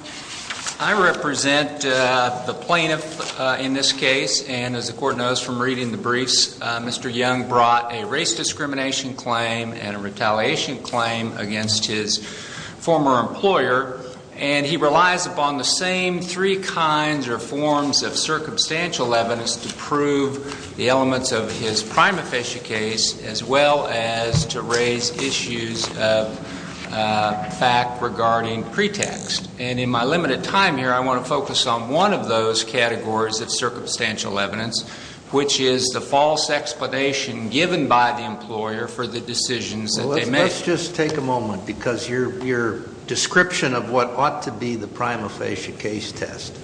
I represent the plaintiff in this case, and as the court knows from reading the briefs, Mr. Young brought a race discrimination claim and a retaliation claim against his former employer, and he relies upon the same three kinds or forms of circumstantial evidence to prove the elements of his prima facie case as well as to raise issues of fact regarding pretext. And in my limited time here, I want to focus on one of those categories of circumstantial evidence, which is the false explanation given by the employer for the decisions that they make. Well, let's just take a moment, because your description of what ought to be the prima facie case test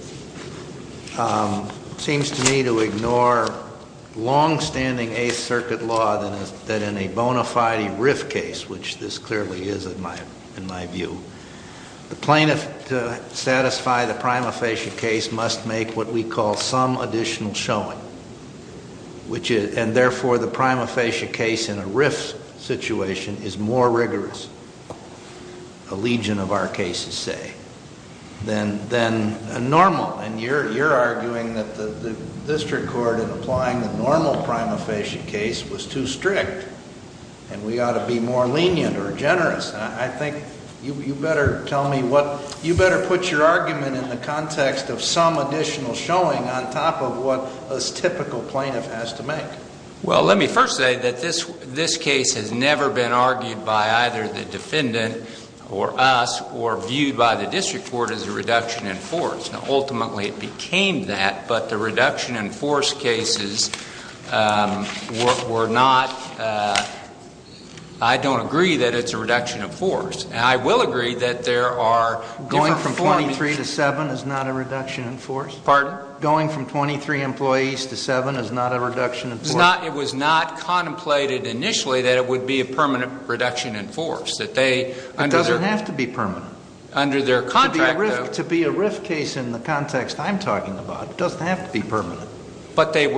seems to me to ignore longstanding Eighth Circuit law that in a bona fide RIF case, which this clearly is in my view, the plaintiff to satisfy the prima facie case must make what we call some additional showing, and therefore the prima facie case in a RIF situation is more rigorous, a legion of our cases say, than a normal, and you're arguing that the district court in applying the normal prima facie case was too strict, and we ought to be more lenient or generous, and I think you better tell me what, you better put your argument in the context of some additional showing on top of what a typical plaintiff has to make. Well, let me first say that this case has never been argued by either the defendant or us, or viewed by the district court as a reduction in force. Now, ultimately it became that, but the reduction in force cases were not, I don't agree that it's a reduction of force. I will agree that there are different forms. Going from 23 to 7 is not a reduction in force? Pardon? Going from 23 employees to 7 is not a reduction in force? It was not contemplated initially that it would be a permanent reduction in force. It doesn't have to be permanent. Under their contract, though. To be a RIF case in the context I'm talking about, it doesn't have to be permanent. But it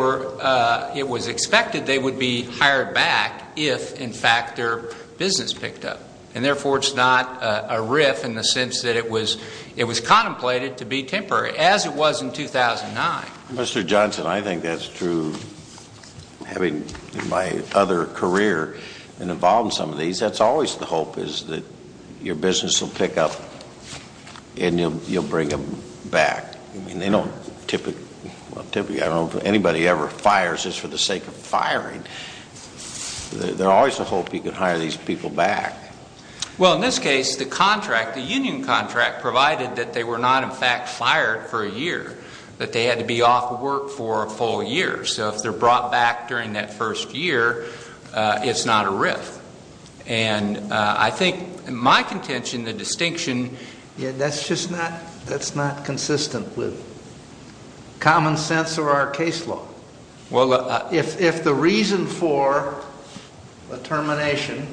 was expected they would be hired back if in fact their business picked up, and therefore it's not a RIF in the sense that it was contemplated to be temporary, as it was in 2009. Mr. Johnson, I think that's true. Having my other career involved in some of these, that's always the hope, is that your business will pick up and you'll bring them back. I mean, they don't typically, I don't know if anybody ever fires just for the sake of firing. There's always the hope you can hire these people back. Well, in this case, the contract, the union contract, provided that they were not in fact fired for a year, that they had to be off work for a full year. So if they're brought back during that first year, it's not a RIF. And I think my contention, the distinction, that's just not consistent with common sense or our case law. Well, if the reason for a termination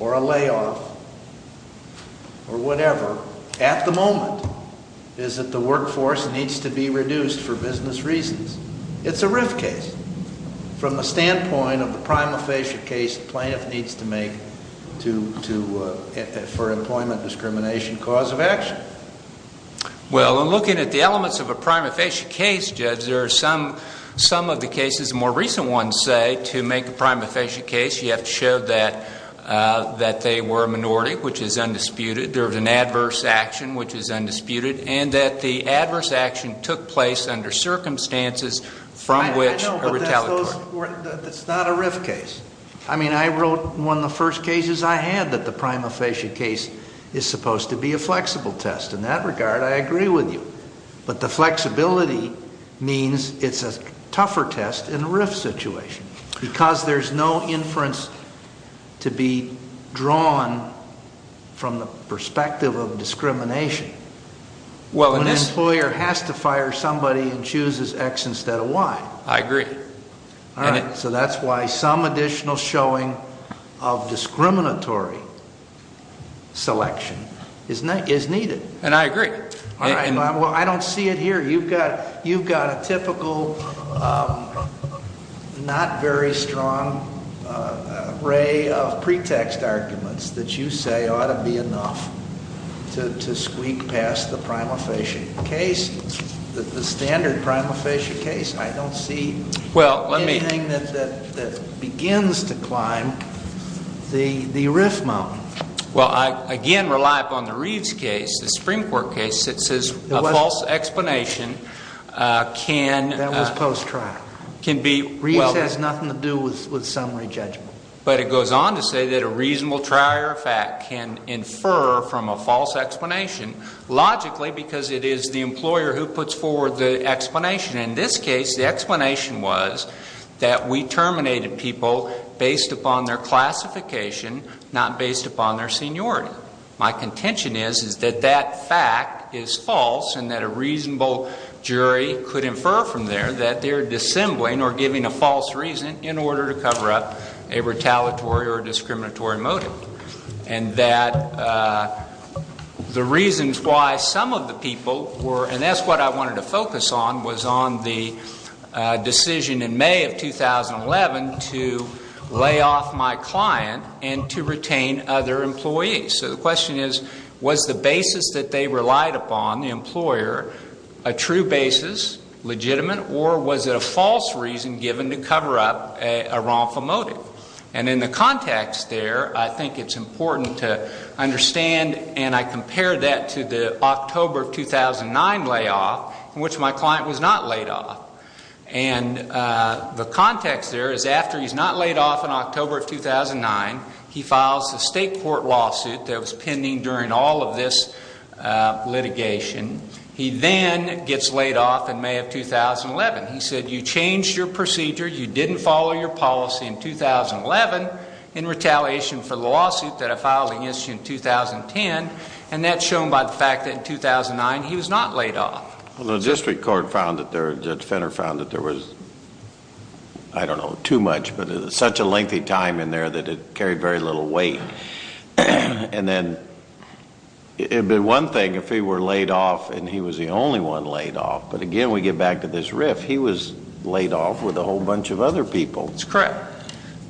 or a layoff or whatever at the moment is that the workforce needs to be reduced for business reasons, it's a RIF case. From the standpoint of the prima facie case plaintiff needs to make for employment discrimination cause of action. Well, in looking at the elements of a prima facie case, Judge, there are some of the cases, more recent ones say, to make a prima facie case, you have to show that they were a minority, which is undisputed, there was an adverse action, which is undisputed, and that the adverse action took place under circumstances from which a retaliatory. I know, but that's not a RIF case. I mean, I wrote one of the first cases I had that the prima facie case is supposed to be a flexible test. In that regard, I agree with you. But the flexibility means it's a tougher test in a RIF situation because there's no inference to be drawn from the perspective of discrimination. When an employer has to fire somebody and chooses X instead of Y. I agree. All right. So that's why some additional showing of discriminatory selection is needed. And I agree. All right. Well, I don't see it here. You've got a typical not very strong array of pretext arguments that you say ought to be enough to squeak past the prima facie case, the standard prima facie case. I don't see anything that begins to climb the RIF mountain. Well, I, again, rely upon the Reeves case, the Supreme Court case that says a false explanation can be... That was post-trial. Reeves has nothing to do with summary judgment. But it goes on to say that a reasonable trial error fact can infer from a false explanation logically because it is the employer who puts forward the explanation. In this case, the explanation was that we terminated people based upon their classification, not based upon their seniority. My contention is that that fact is false and that a reasonable jury could infer from there that they're dissembling or giving a false reason in order to cover up a retaliatory or discriminatory motive. And that the reasons why some of the people were, and that's what I wanted to focus on, was on the decision in May of 2011 to lay off my client and to retain other employees. So the question is, was the basis that they relied upon, the employer, a true basis, legitimate, or was it a false reason given to cover up a wrongful motive? And in the context there, I think it's important to understand, and I compare that to the October of 2009 layoff in which my client was not laid off. And the context there is after he's not laid off in October of 2009, he files the state court lawsuit that was pending during all of this litigation. He then gets laid off in May of 2011. He said, you changed your procedure, you didn't follow your policy in 2011 in retaliation for the lawsuit that I filed against you in 2010, and that's shown by the fact that in 2009 he was not laid off. Well, the district court found that there, Judge Fenner found that there was, I don't know, too much, but it was such a lengthy time in there that it carried very little weight. And then it would be one thing if he were laid off and he was the only one laid off, but again we get back to this riff, he was laid off with a whole bunch of other people. That's correct.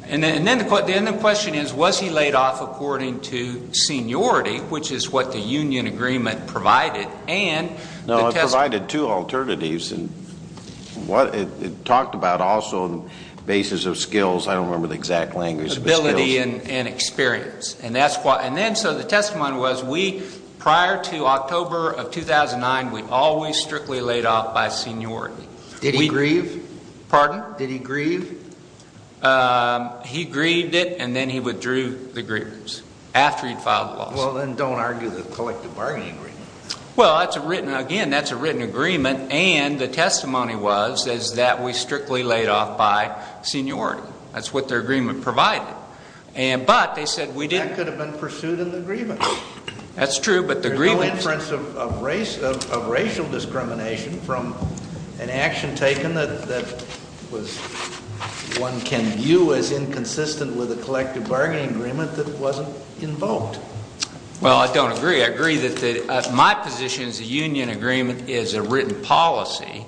And then the question is, was he laid off according to seniority, which is what the union agreement provided and the testimony. No, it provided two alternatives. It talked about also the basis of skills. I don't remember the exact language of the skills. Ability and experience. And then so the testimony was we, prior to October of 2009, we always strictly laid off by seniority. Did he grieve? Pardon? Did he grieve? He grieved it and then he withdrew the grievance after he filed the lawsuit. Well, then don't argue the collective bargaining agreement. Well, that's a written, again, that's a written agreement, and the testimony was that we strictly laid off by seniority. That's what their agreement provided. But they said we didn't. That could have been pursued in the grievance. That's true, but the grievance. There's no inference of racial discrimination from an action taken that one can view as inconsistent with a collective bargaining agreement that wasn't invoked. Well, I don't agree. I agree that my position is the union agreement is a written policy,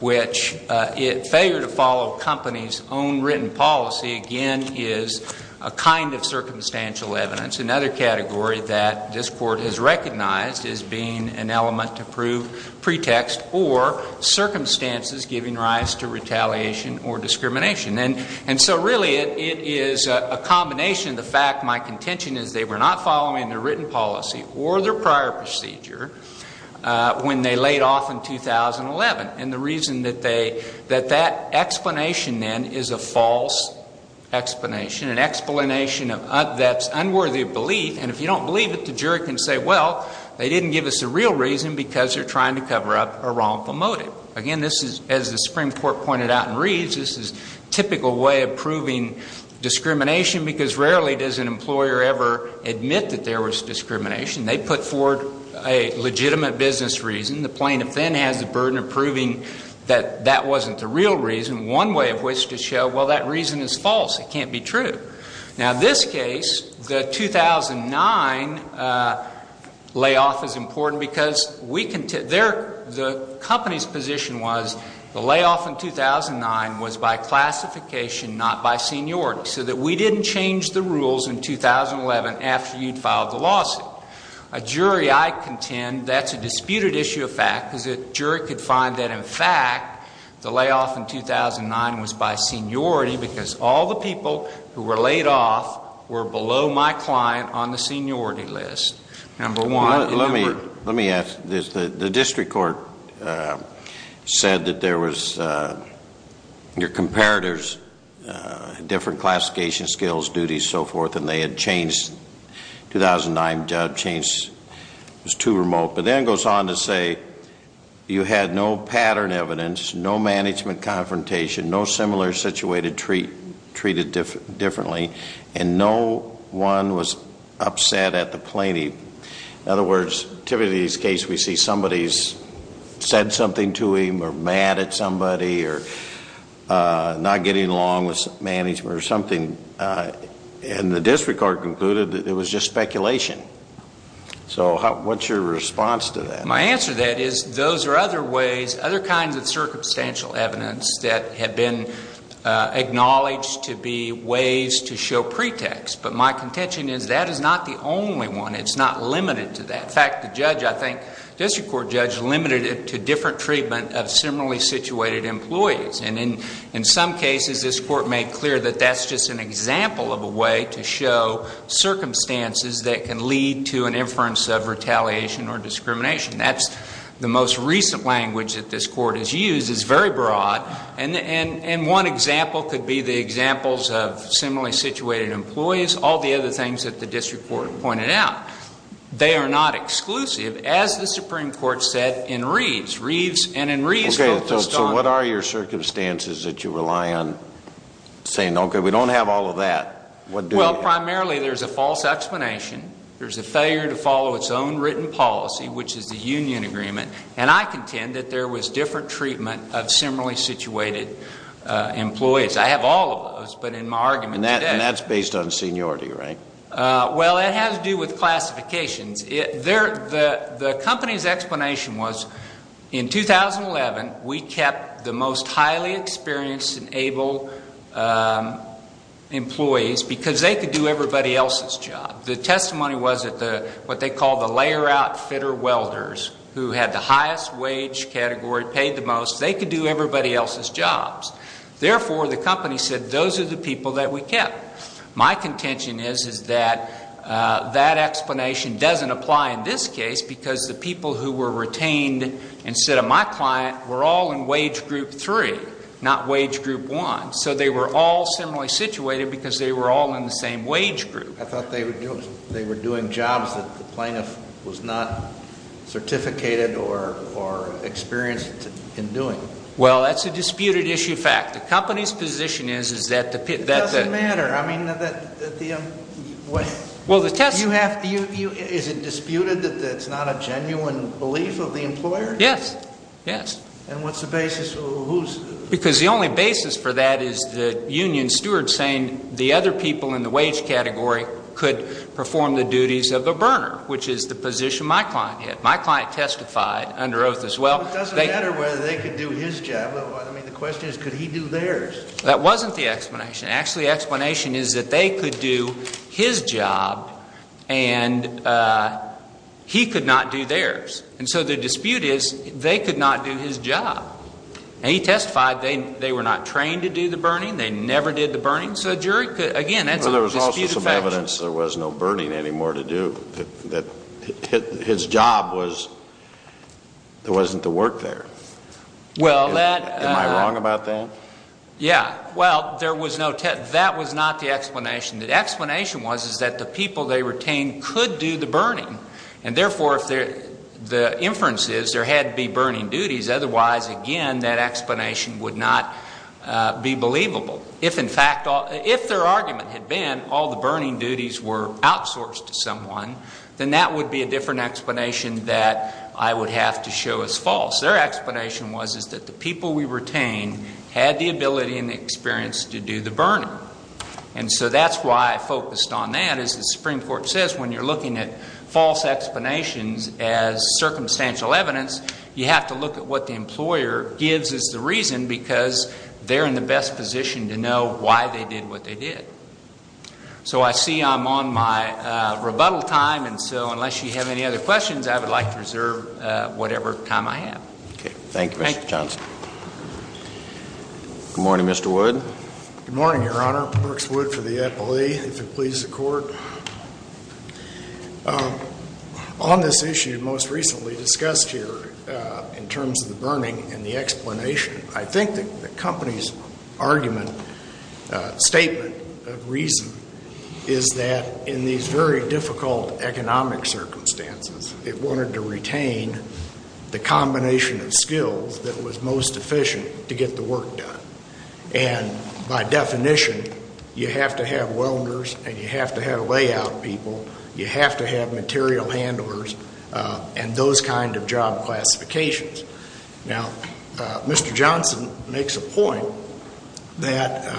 which failure to follow a company's own written policy, again, is a kind of circumstantial evidence, another category that this Court has recognized as being an element to prove pretext or circumstances giving rise to retaliation or discrimination. And so really it is a combination of the fact my contention is they were not following their written policy or their prior procedure when they laid off in 2011. And the reason that they, that that explanation then is a false explanation, an explanation that's unworthy of belief, and if you don't believe it, the jury can say, well, they didn't give us a real reason because they're trying to cover up a wrongful motive. Again, this is, as the Supreme Court pointed out in Reeves, this is a typical way of proving discrimination because rarely does an employer ever admit that there was discrimination. They put forward a legitimate business reason. The plaintiff then has the burden of proving that that wasn't the real reason, one way of which to show, well, that reason is false. It can't be true. Now, this case, the 2009 layoff is important because we can, their, the company's position was the layoff in 2009 was by classification, not by seniority, so that we didn't change the rules in 2011 after you'd filed the lawsuit. A jury I contend that's a disputed issue of fact because a jury could find that, in fact, the layoff in 2009 was by seniority because all the people who were laid off were below my client on the seniority list. Let me ask this. The district court said that there was, your comparators, different classification skills, duties, so forth, and they had changed, 2009 job change was too remote. But then it goes on to say you had no pattern evidence, no management confrontation, no similar situated treated differently, and no one was upset at the plaintiff. In other words, typically in this case we see somebody's said something to him or mad at somebody or not getting along with management or something, and the district court concluded that it was just speculation. So what's your response to that? My answer to that is those are other ways, other kinds of circumstantial evidence that have been acknowledged to be ways to show pretext. But my contention is that is not the only one. It's not limited to that. In fact, the judge, I think, district court judge limited it to different treatment of similarly situated employees. And in some cases this court made clear that that's just an example of a way to show circumstances that can lead to an inference of retaliation or discrimination. That's the most recent language that this court has used. It's very broad. And one example could be the examples of similarly situated employees, all the other things that the district court pointed out. They are not exclusive, as the Supreme Court said in Reeves. Reeves and in Reeves focused on the circumstances that you rely on saying, okay, we don't have all of that. Well, primarily there's a false explanation. There's a failure to follow its own written policy, which is the union agreement. And I contend that there was different treatment of similarly situated employees. I have all of those, but in my argument today. And that's based on seniority, right? Well, it has to do with classifications. The company's explanation was in 2011 we kept the most highly experienced and able employees because they could do everybody else's job. The testimony was that what they call the layer-out fitter welders, who had the highest wage category, paid the most, they could do everybody else's jobs. Therefore, the company said those are the people that we kept. My contention is that that explanation doesn't apply in this case because the people who were retained instead of my client were all in wage group 3, not wage group 1. So they were all similarly situated because they were all in the same wage group. I thought they were doing jobs that the plaintiff was not certificated or experienced in doing. Well, that's a disputed issue of fact. The company's position is that the— It doesn't matter. I mean, is it disputed that that's not a genuine belief of the employer? Yes, yes. And what's the basis? Because the only basis for that is the union steward saying the other people in the wage category could perform the duties of a burner, which is the position my client had. My client testified under oath as well. It doesn't matter whether they could do his job. I mean, the question is could he do theirs? That wasn't the explanation. Actually, the explanation is that they could do his job and he could not do theirs. And so the dispute is they could not do his job. And he testified they were not trained to do the burning. They never did the burning. So a jury could—again, that's a disputed fact. Well, there was also some evidence there was no burning anymore to do. His job was—there wasn't the work there. Well, that— Am I wrong about that? Yeah. Well, there was no—that was not the explanation. The explanation was is that the people they retained could do the burning. And, therefore, if the inference is there had to be burning duties, otherwise, again, that explanation would not be believable. If, in fact—if their argument had been all the burning duties were outsourced to someone, then that would be a different explanation that I would have to show as false. Their explanation was is that the people we retained had the ability and the experience to do the burning. And so that's why I focused on that. As the Supreme Court says, when you're looking at false explanations as circumstantial evidence, you have to look at what the employer gives as the reason because they're in the best position to know why they did what they did. So I see I'm on my rebuttal time, and so unless you have any other questions, I would like to reserve whatever time I have. Okay. Thank you, Mr. Johnson. Good morning, Mr. Wood. Good morning, Your Honor. Marks Wood for the employee, if it pleases the Court. On this issue most recently discussed here in terms of the burning and the explanation, I think that the company's argument, statement of reason, is that in these very difficult economic circumstances, it wanted to retain the combination of skills that was most efficient to get the work done. And by definition, you have to have welders and you have to have layout people. You have to have material handlers and those kind of job classifications. Now, Mr. Johnson makes a point that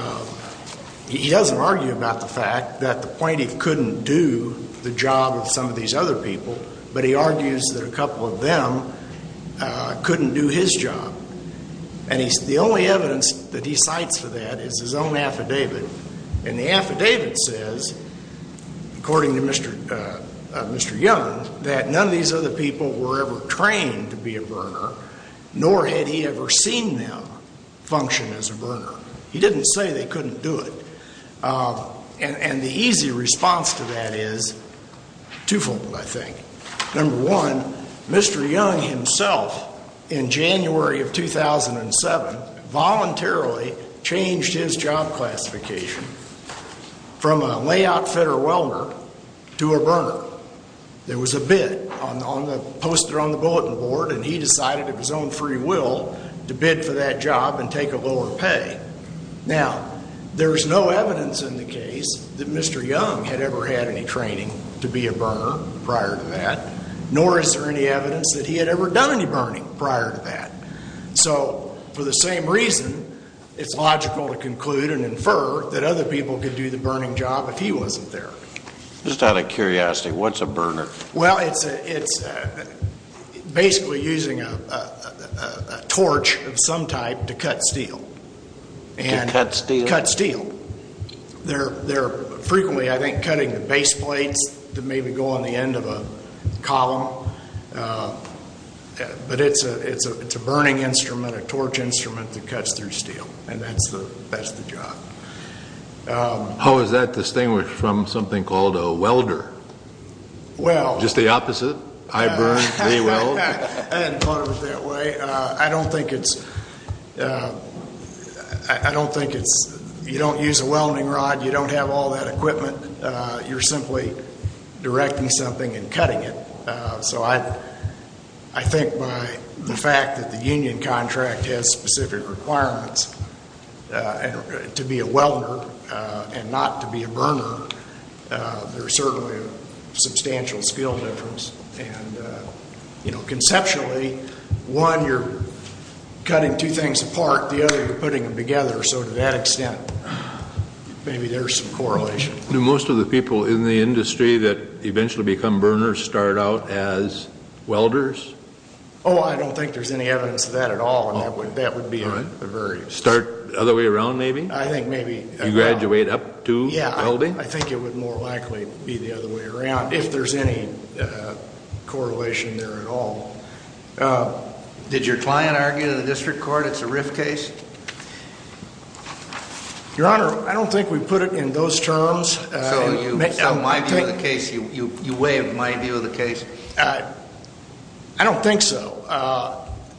he doesn't argue about the fact that the plaintiff couldn't do the job of some of these other people, but he argues that a couple of them couldn't do his job. And the only evidence that he cites for that is his own affidavit. And the affidavit says, according to Mr. Young, that none of these other people were ever trained to be a burner, nor had he ever seen them function as a burner. He didn't say they couldn't do it. And the easy response to that is twofold, I think. Number one, Mr. Young himself, in January of 2007, voluntarily changed his job classification from a layout fitter welder to a burner. There was a bid posted on the bulletin board, and he decided of his own free will to bid for that job and take a lower pay. Now, there is no evidence in the case that Mr. Young had ever had any training to be a burner prior to that, nor is there any evidence that he had ever done any burning prior to that. So for the same reason, it's logical to conclude and infer that other people could do the burning job if he wasn't there. Well, it's basically using a torch of some type to cut steel. To cut steel? To cut steel. They're frequently, I think, cutting the base plates that maybe go on the end of a column. But it's a burning instrument, a torch instrument that cuts through steel, and that's the job. How is that distinguished from something called a welder? Well. Just the opposite? I burn, they weld? I hadn't thought of it that way. I don't think it's you don't use a welding rod, you don't have all that equipment. You're simply directing something and cutting it. So I think by the fact that the union contract has specific requirements to be a welder and not to be a burner, there's certainly a substantial skill difference. And, you know, conceptually, one, you're cutting two things apart, the other, you're putting them together. So to that extent, maybe there's some correlation. Do most of the people in the industry that eventually become burners start out as welders? Oh, I don't think there's any evidence of that at all, and that would be a very. Start the other way around, maybe? I think maybe. You graduate up to welding? Yeah, I think it would more likely be the other way around if there's any correlation there at all. Did your client argue in the district court it's a RIF case? Your Honor, I don't think we put it in those terms. So you weigh my view of the case? I don't think so.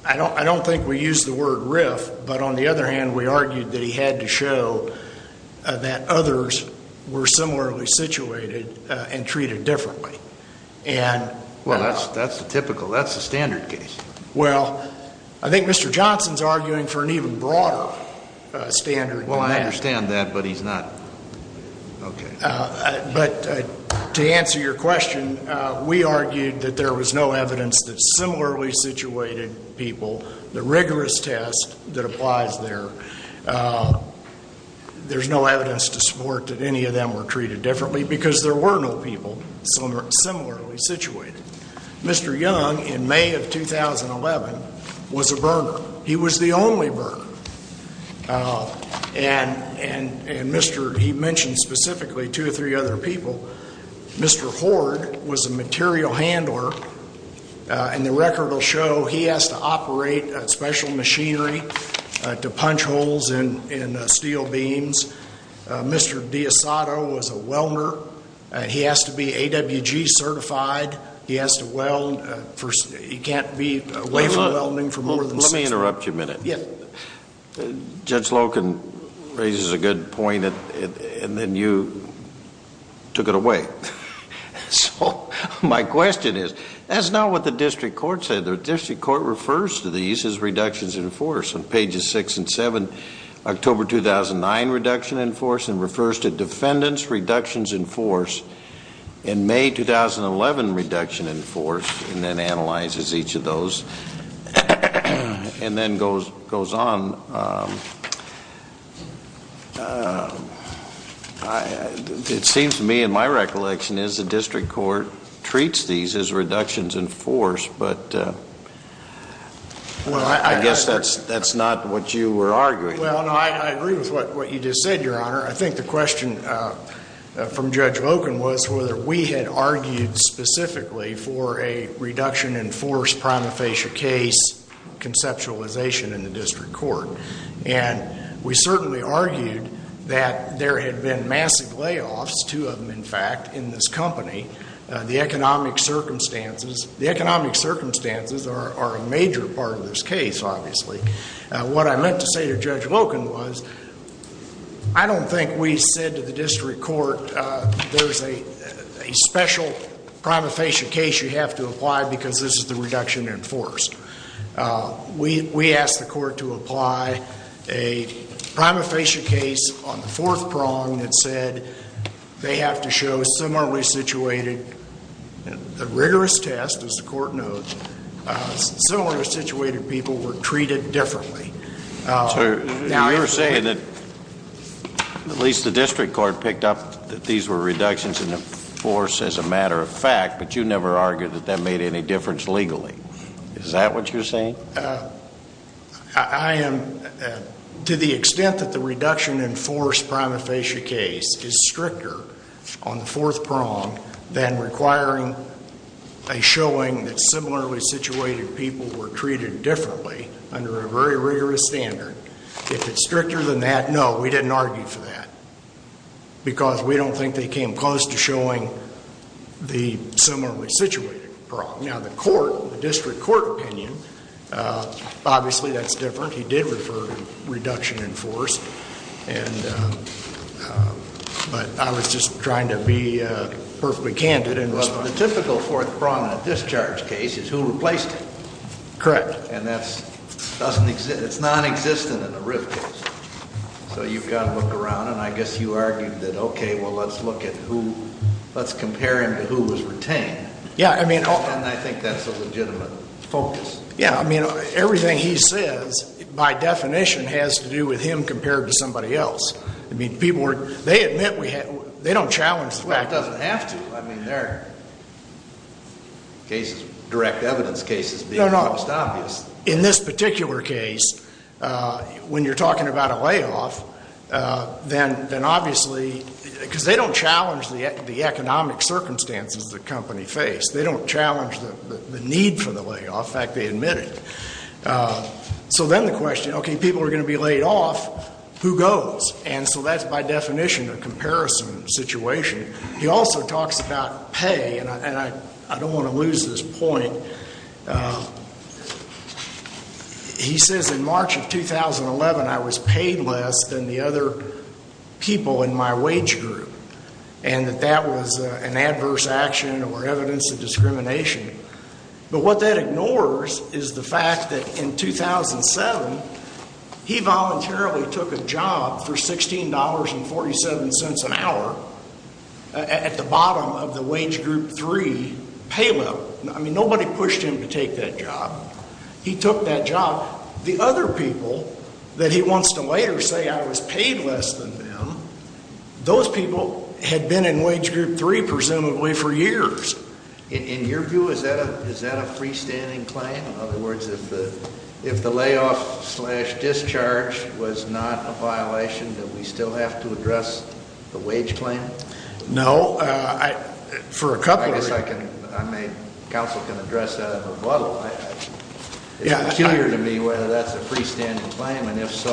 I don't think we used the word RIF. But on the other hand, we argued that he had to show that others were similarly situated and treated differently. Well, that's typical. That's the standard case. Well, I think Mr. Johnson's arguing for an even broader standard. Well, I understand that, but he's not. Okay. But to answer your question, we argued that there was no evidence that similarly situated people, the rigorous test that applies there, there's no evidence to support that any of them were treated differently because there were no people similarly situated. Mr. Young, in May of 2011, was a burner. He was the only burner. And he mentioned specifically two or three other people. Mr. Hoard was a material handler, and the record will show he has to operate special machinery to punch holes in steel beams. Mr. D'Isato was a welder. He has to be AWG certified. He has to weld. He can't be away from welding for more than six months. Let me interrupt you a minute. Yes. Judge Loken raises a good point, and then you took it away. So my question is, that's not what the district court said. The district court refers to these as reductions in force on pages 6 and 7. October 2009 reduction in force, and refers to defendants' reductions in force in May 2011 reduction in force, and then analyzes each of those and then goes on. It seems to me and my recollection is the district court treats these as reductions in force, but I guess that's not what you were arguing. Well, no, I agree with what you just said, Your Honor. I think the question from Judge Loken was whether we had argued specifically for a reduction in force prima facie case conceptualization in the district court. And we certainly argued that there had been massive layoffs, two of them, in fact, in this company. The economic circumstances are a major part of this case, obviously. What I meant to say to Judge Loken was, I don't think we said to the district court, there's a special prima facie case you have to apply because this is the reduction in force. We asked the court to apply a prima facie case on the fourth prong that said they have to show similarly situated, a rigorous test, as the court notes, similarly situated people were treated differently. You're saying that at least the district court picked up that these were reductions in force as a matter of fact, but you never argued that that made any difference legally. Is that what you're saying? I am, to the extent that the reduction in force prima facie case is stricter on the fourth prong than requiring a showing that similarly situated people were treated differently under a very rigorous standard. If it's stricter than that, no, we didn't argue for that because we don't think they came close to showing the similarly situated prong. Now, the court, the district court opinion, obviously that's different. He did refer to reduction in force, but I was just trying to be perfectly candid. The typical fourth prong in a discharge case is who replaced it. Correct. And that's nonexistent in a RIF case. So you've got to look around, and I guess you argued that, okay, well, let's look at who, let's compare him to who was retained. Yeah. And I think that's a legitimate focus. Yeah. I mean, everything he says, by definition, has to do with him compared to somebody else. I mean, people were, they admit we had, they don't challenge the fact. Well, it doesn't have to. I mean, there are cases, direct evidence cases being the most obvious. No, no. In this particular case, when you're talking about a layoff, then obviously, because they don't challenge the economic circumstances the company faced. They don't challenge the need for the layoff. In fact, they admit it. So then the question, okay, people are going to be laid off. Who goes? And so that's, by definition, a comparison situation. He also talks about pay, and I don't want to lose this point. He says, in March of 2011, I was paid less than the other people in my wage group, and that that was an adverse action or evidence of discrimination. But what that ignores is the fact that in 2007, he voluntarily took a job for $16.47 an hour at the bottom of the wage group three pay level. I mean, nobody pushed him to take that job. He took that job. The other people that he wants to later say I was paid less than them, those people had been in wage group three, presumably, for years. In your view, is that a freestanding claim? In other words, if the layoff-slash-discharge was not a violation, do we still have to address the wage claim? No. I guess counsel can address that in a rebuttal. It's peculiar to me whether that's a freestanding claim, and if so,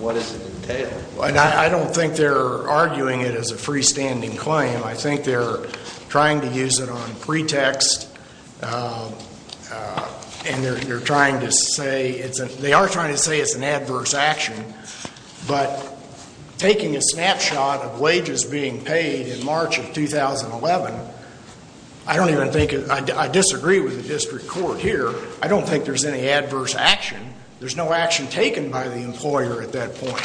what does it entail? I don't think they're arguing it as a freestanding claim. I think they're trying to use it on pretext, and they're trying to say it's an adverse action. But taking a snapshot of wages being paid in March of 2011, I disagree with the district court here. I don't think there's any adverse action. There's no action taken by the employer at that point.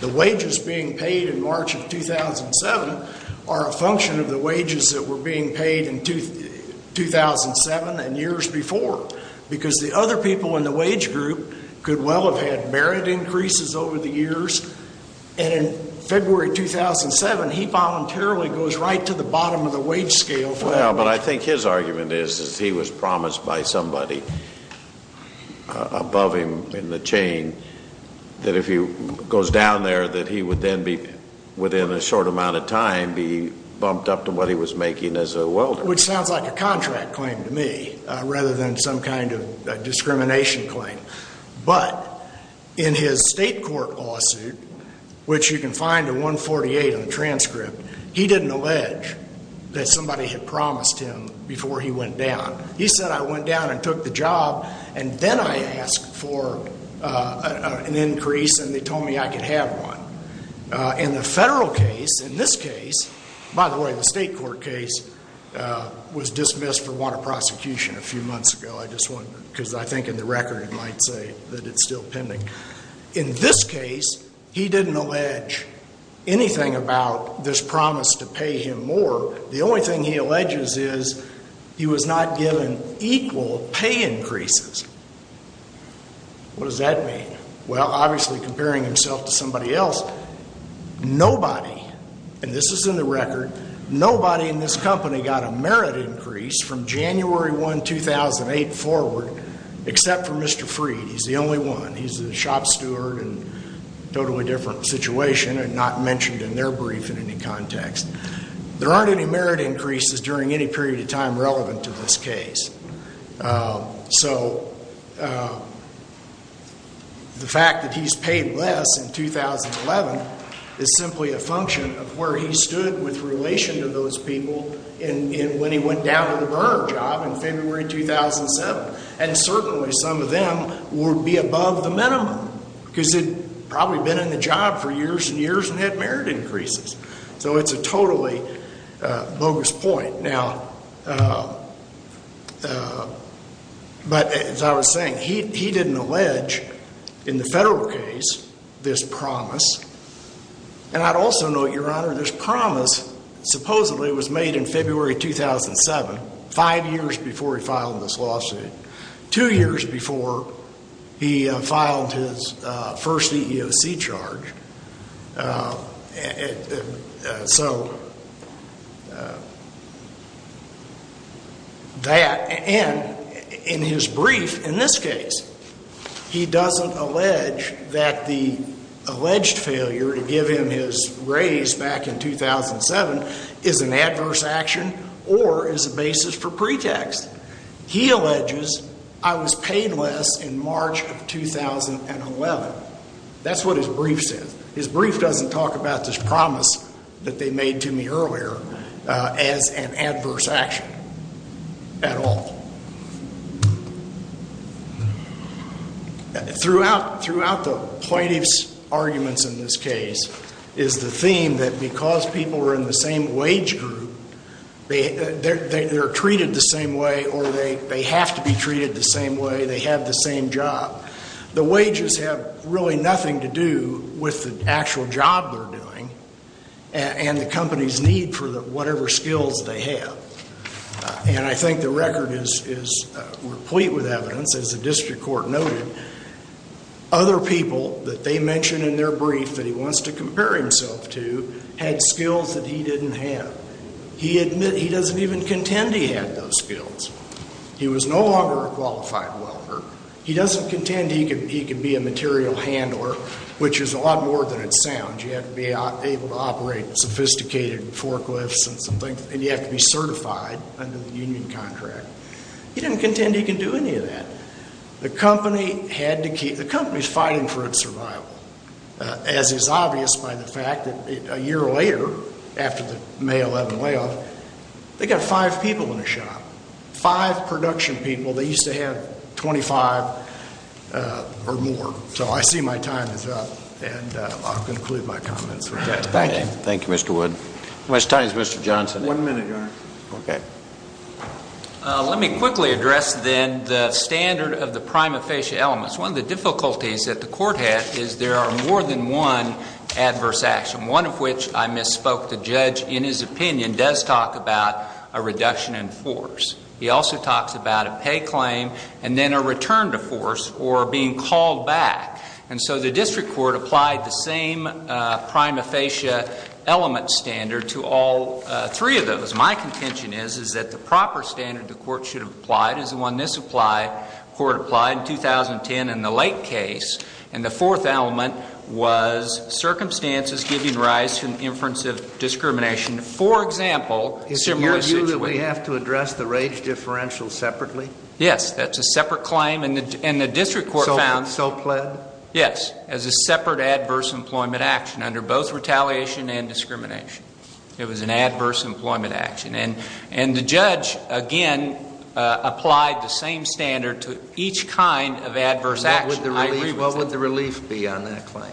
The wages being paid in March of 2007 are a function of the wages that were being paid in 2007 and years before because the other people in the wage group could well have had merit increases over the years. And in February 2007, he voluntarily goes right to the bottom of the wage scale for that. Well, but I think his argument is that he was promised by somebody above him in the chain that if he goes down there, that he would then be, within a short amount of time, be bumped up to what he was making as a welder. Which sounds like a contract claim to me rather than some kind of discrimination claim. But in his state court lawsuit, which you can find in 148 in the transcript, he didn't allege that somebody had promised him before he went down. He said, I went down and took the job, and then I asked for an increase, and they told me I could have one. In the federal case, in this case, by the way, the state court case was dismissed for want of prosecution a few months ago, because I think in the record it might say that it's still pending. In this case, he didn't allege anything about this promise to pay him more. The only thing he alleges is he was not given equal pay increases. What does that mean? Well, obviously comparing himself to somebody else, nobody, and this is in the record, nobody in this company got a merit increase from January 1, 2008 forward except for Mr. Freed. He's the only one. He's a shop steward in a totally different situation and not mentioned in their brief in any context. There aren't any merit increases during any period of time relevant to this case. So the fact that he's paid less in 2011 is simply a function of where he stood with relation to those people when he went down to the burner job in February 2007, and certainly some of them would be above the minimum because they'd probably been in the job for years and years and had merit increases. So it's a totally bogus point. Now, but as I was saying, he didn't allege in the federal case this promise. And I'd also note, Your Honor, this promise supposedly was made in February 2007, five years before he filed this lawsuit, two years before he filed his first EEOC charge. So that, and in his brief in this case, he doesn't allege that the alleged failure to give him his raise back in 2007 is an adverse action or is a basis for pretext. He alleges, I was paid less in March of 2011. That's what his brief says. His brief doesn't talk about this promise that they made to me earlier as an adverse action at all. Throughout the plaintiff's arguments in this case is the theme that because people are in the same wage group, they're treated the same way or they have to be treated the same way, they have the same job. The wages have really nothing to do with the actual job they're doing and the company's need for whatever skills they have. And I think the record is replete with evidence, as the district court noted. Other people that they mention in their brief that he wants to compare himself to had skills that he didn't have. He admits he doesn't even contend he had those skills. He was no longer a qualified welder. He doesn't contend he could be a material handler, which is a lot more than it sounds. You have to be able to operate sophisticated forklifts and you have to be certified under the union contract. He didn't contend he could do any of that. The company's fighting for its survival, as is obvious by the fact that a year later, after the May 11 layoff, they got five people in the shop, five production people. They used to have 25 or more. So I see my time is up and I'll conclude my comments with that. Thank you. Thank you, Mr. Wood. How much time is Mr. Johnson? One minute, Your Honor. Okay. Let me quickly address then the standard of the prima facie elements. One of the difficulties that the court had is there are more than one adverse action, one of which I misspoke. The judge, in his opinion, does talk about a reduction in force. He also talks about a pay claim and then a return to force or being called back. And so the district court applied the same prima facie element standard to all three of those. My contention is, is that the proper standard the court should have applied is the one this court applied in 2010 in the Lake case. And the fourth element was circumstances giving rise to an inference of discrimination. For example, similar situation. Is it your view that we have to address the rage differential separately? Yes. That's a separate claim. And the district court found. So pled? Yes. As a separate adverse employment action under both retaliation and discrimination. It was an adverse employment action. And the judge, again, applied the same standard to each kind of adverse action. What would the relief be on that claim?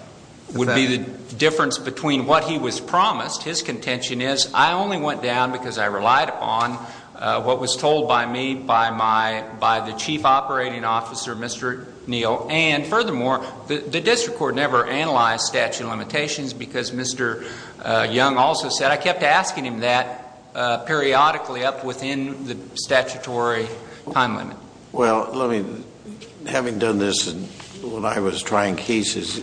It would be the difference between what he was promised. His contention is I only went down because I relied upon what was told by me, by the chief operating officer, Mr. Neal. And furthermore, the district court never analyzed statute of limitations because Mr. Young also said I kept asking him that periodically up within the statutory time limit. Well, having done this when I was trying cases,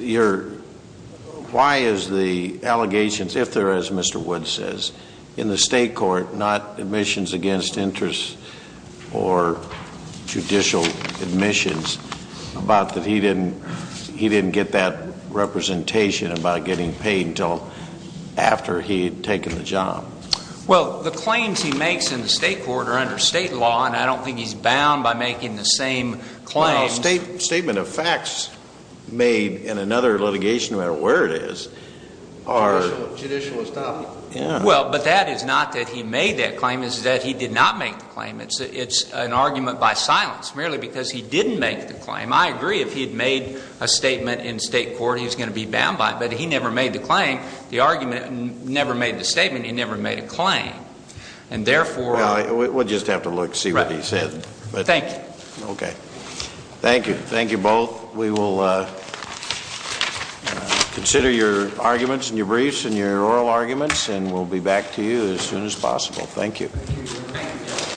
why is the allegations, if there is, Mr. Woods says, in the state court, not admissions against interest or judicial admissions, about that he didn't get that representation about getting paid until after he had taken the job? Well, the claims he makes in the state court are under state law. And I don't think he's bound by making the same claims. Well, a statement of facts made in another litigation, no matter where it is, are... Judicial. Judicial is topic. Yeah. Well, but that is not that he made that claim. It's that he did not make the claim. It's an argument by silence, merely because he didn't make the claim. I agree if he had made a statement in state court, he was going to be bound by it. But he never made the claim. The argument never made the statement. He never made a claim. And therefore... Well, we'll just have to look, see what he said. Thank you. Okay. Thank you. Thank you both. We will consider your arguments and your briefs and your oral arguments, and we'll be back to you as soon as possible. Thank you.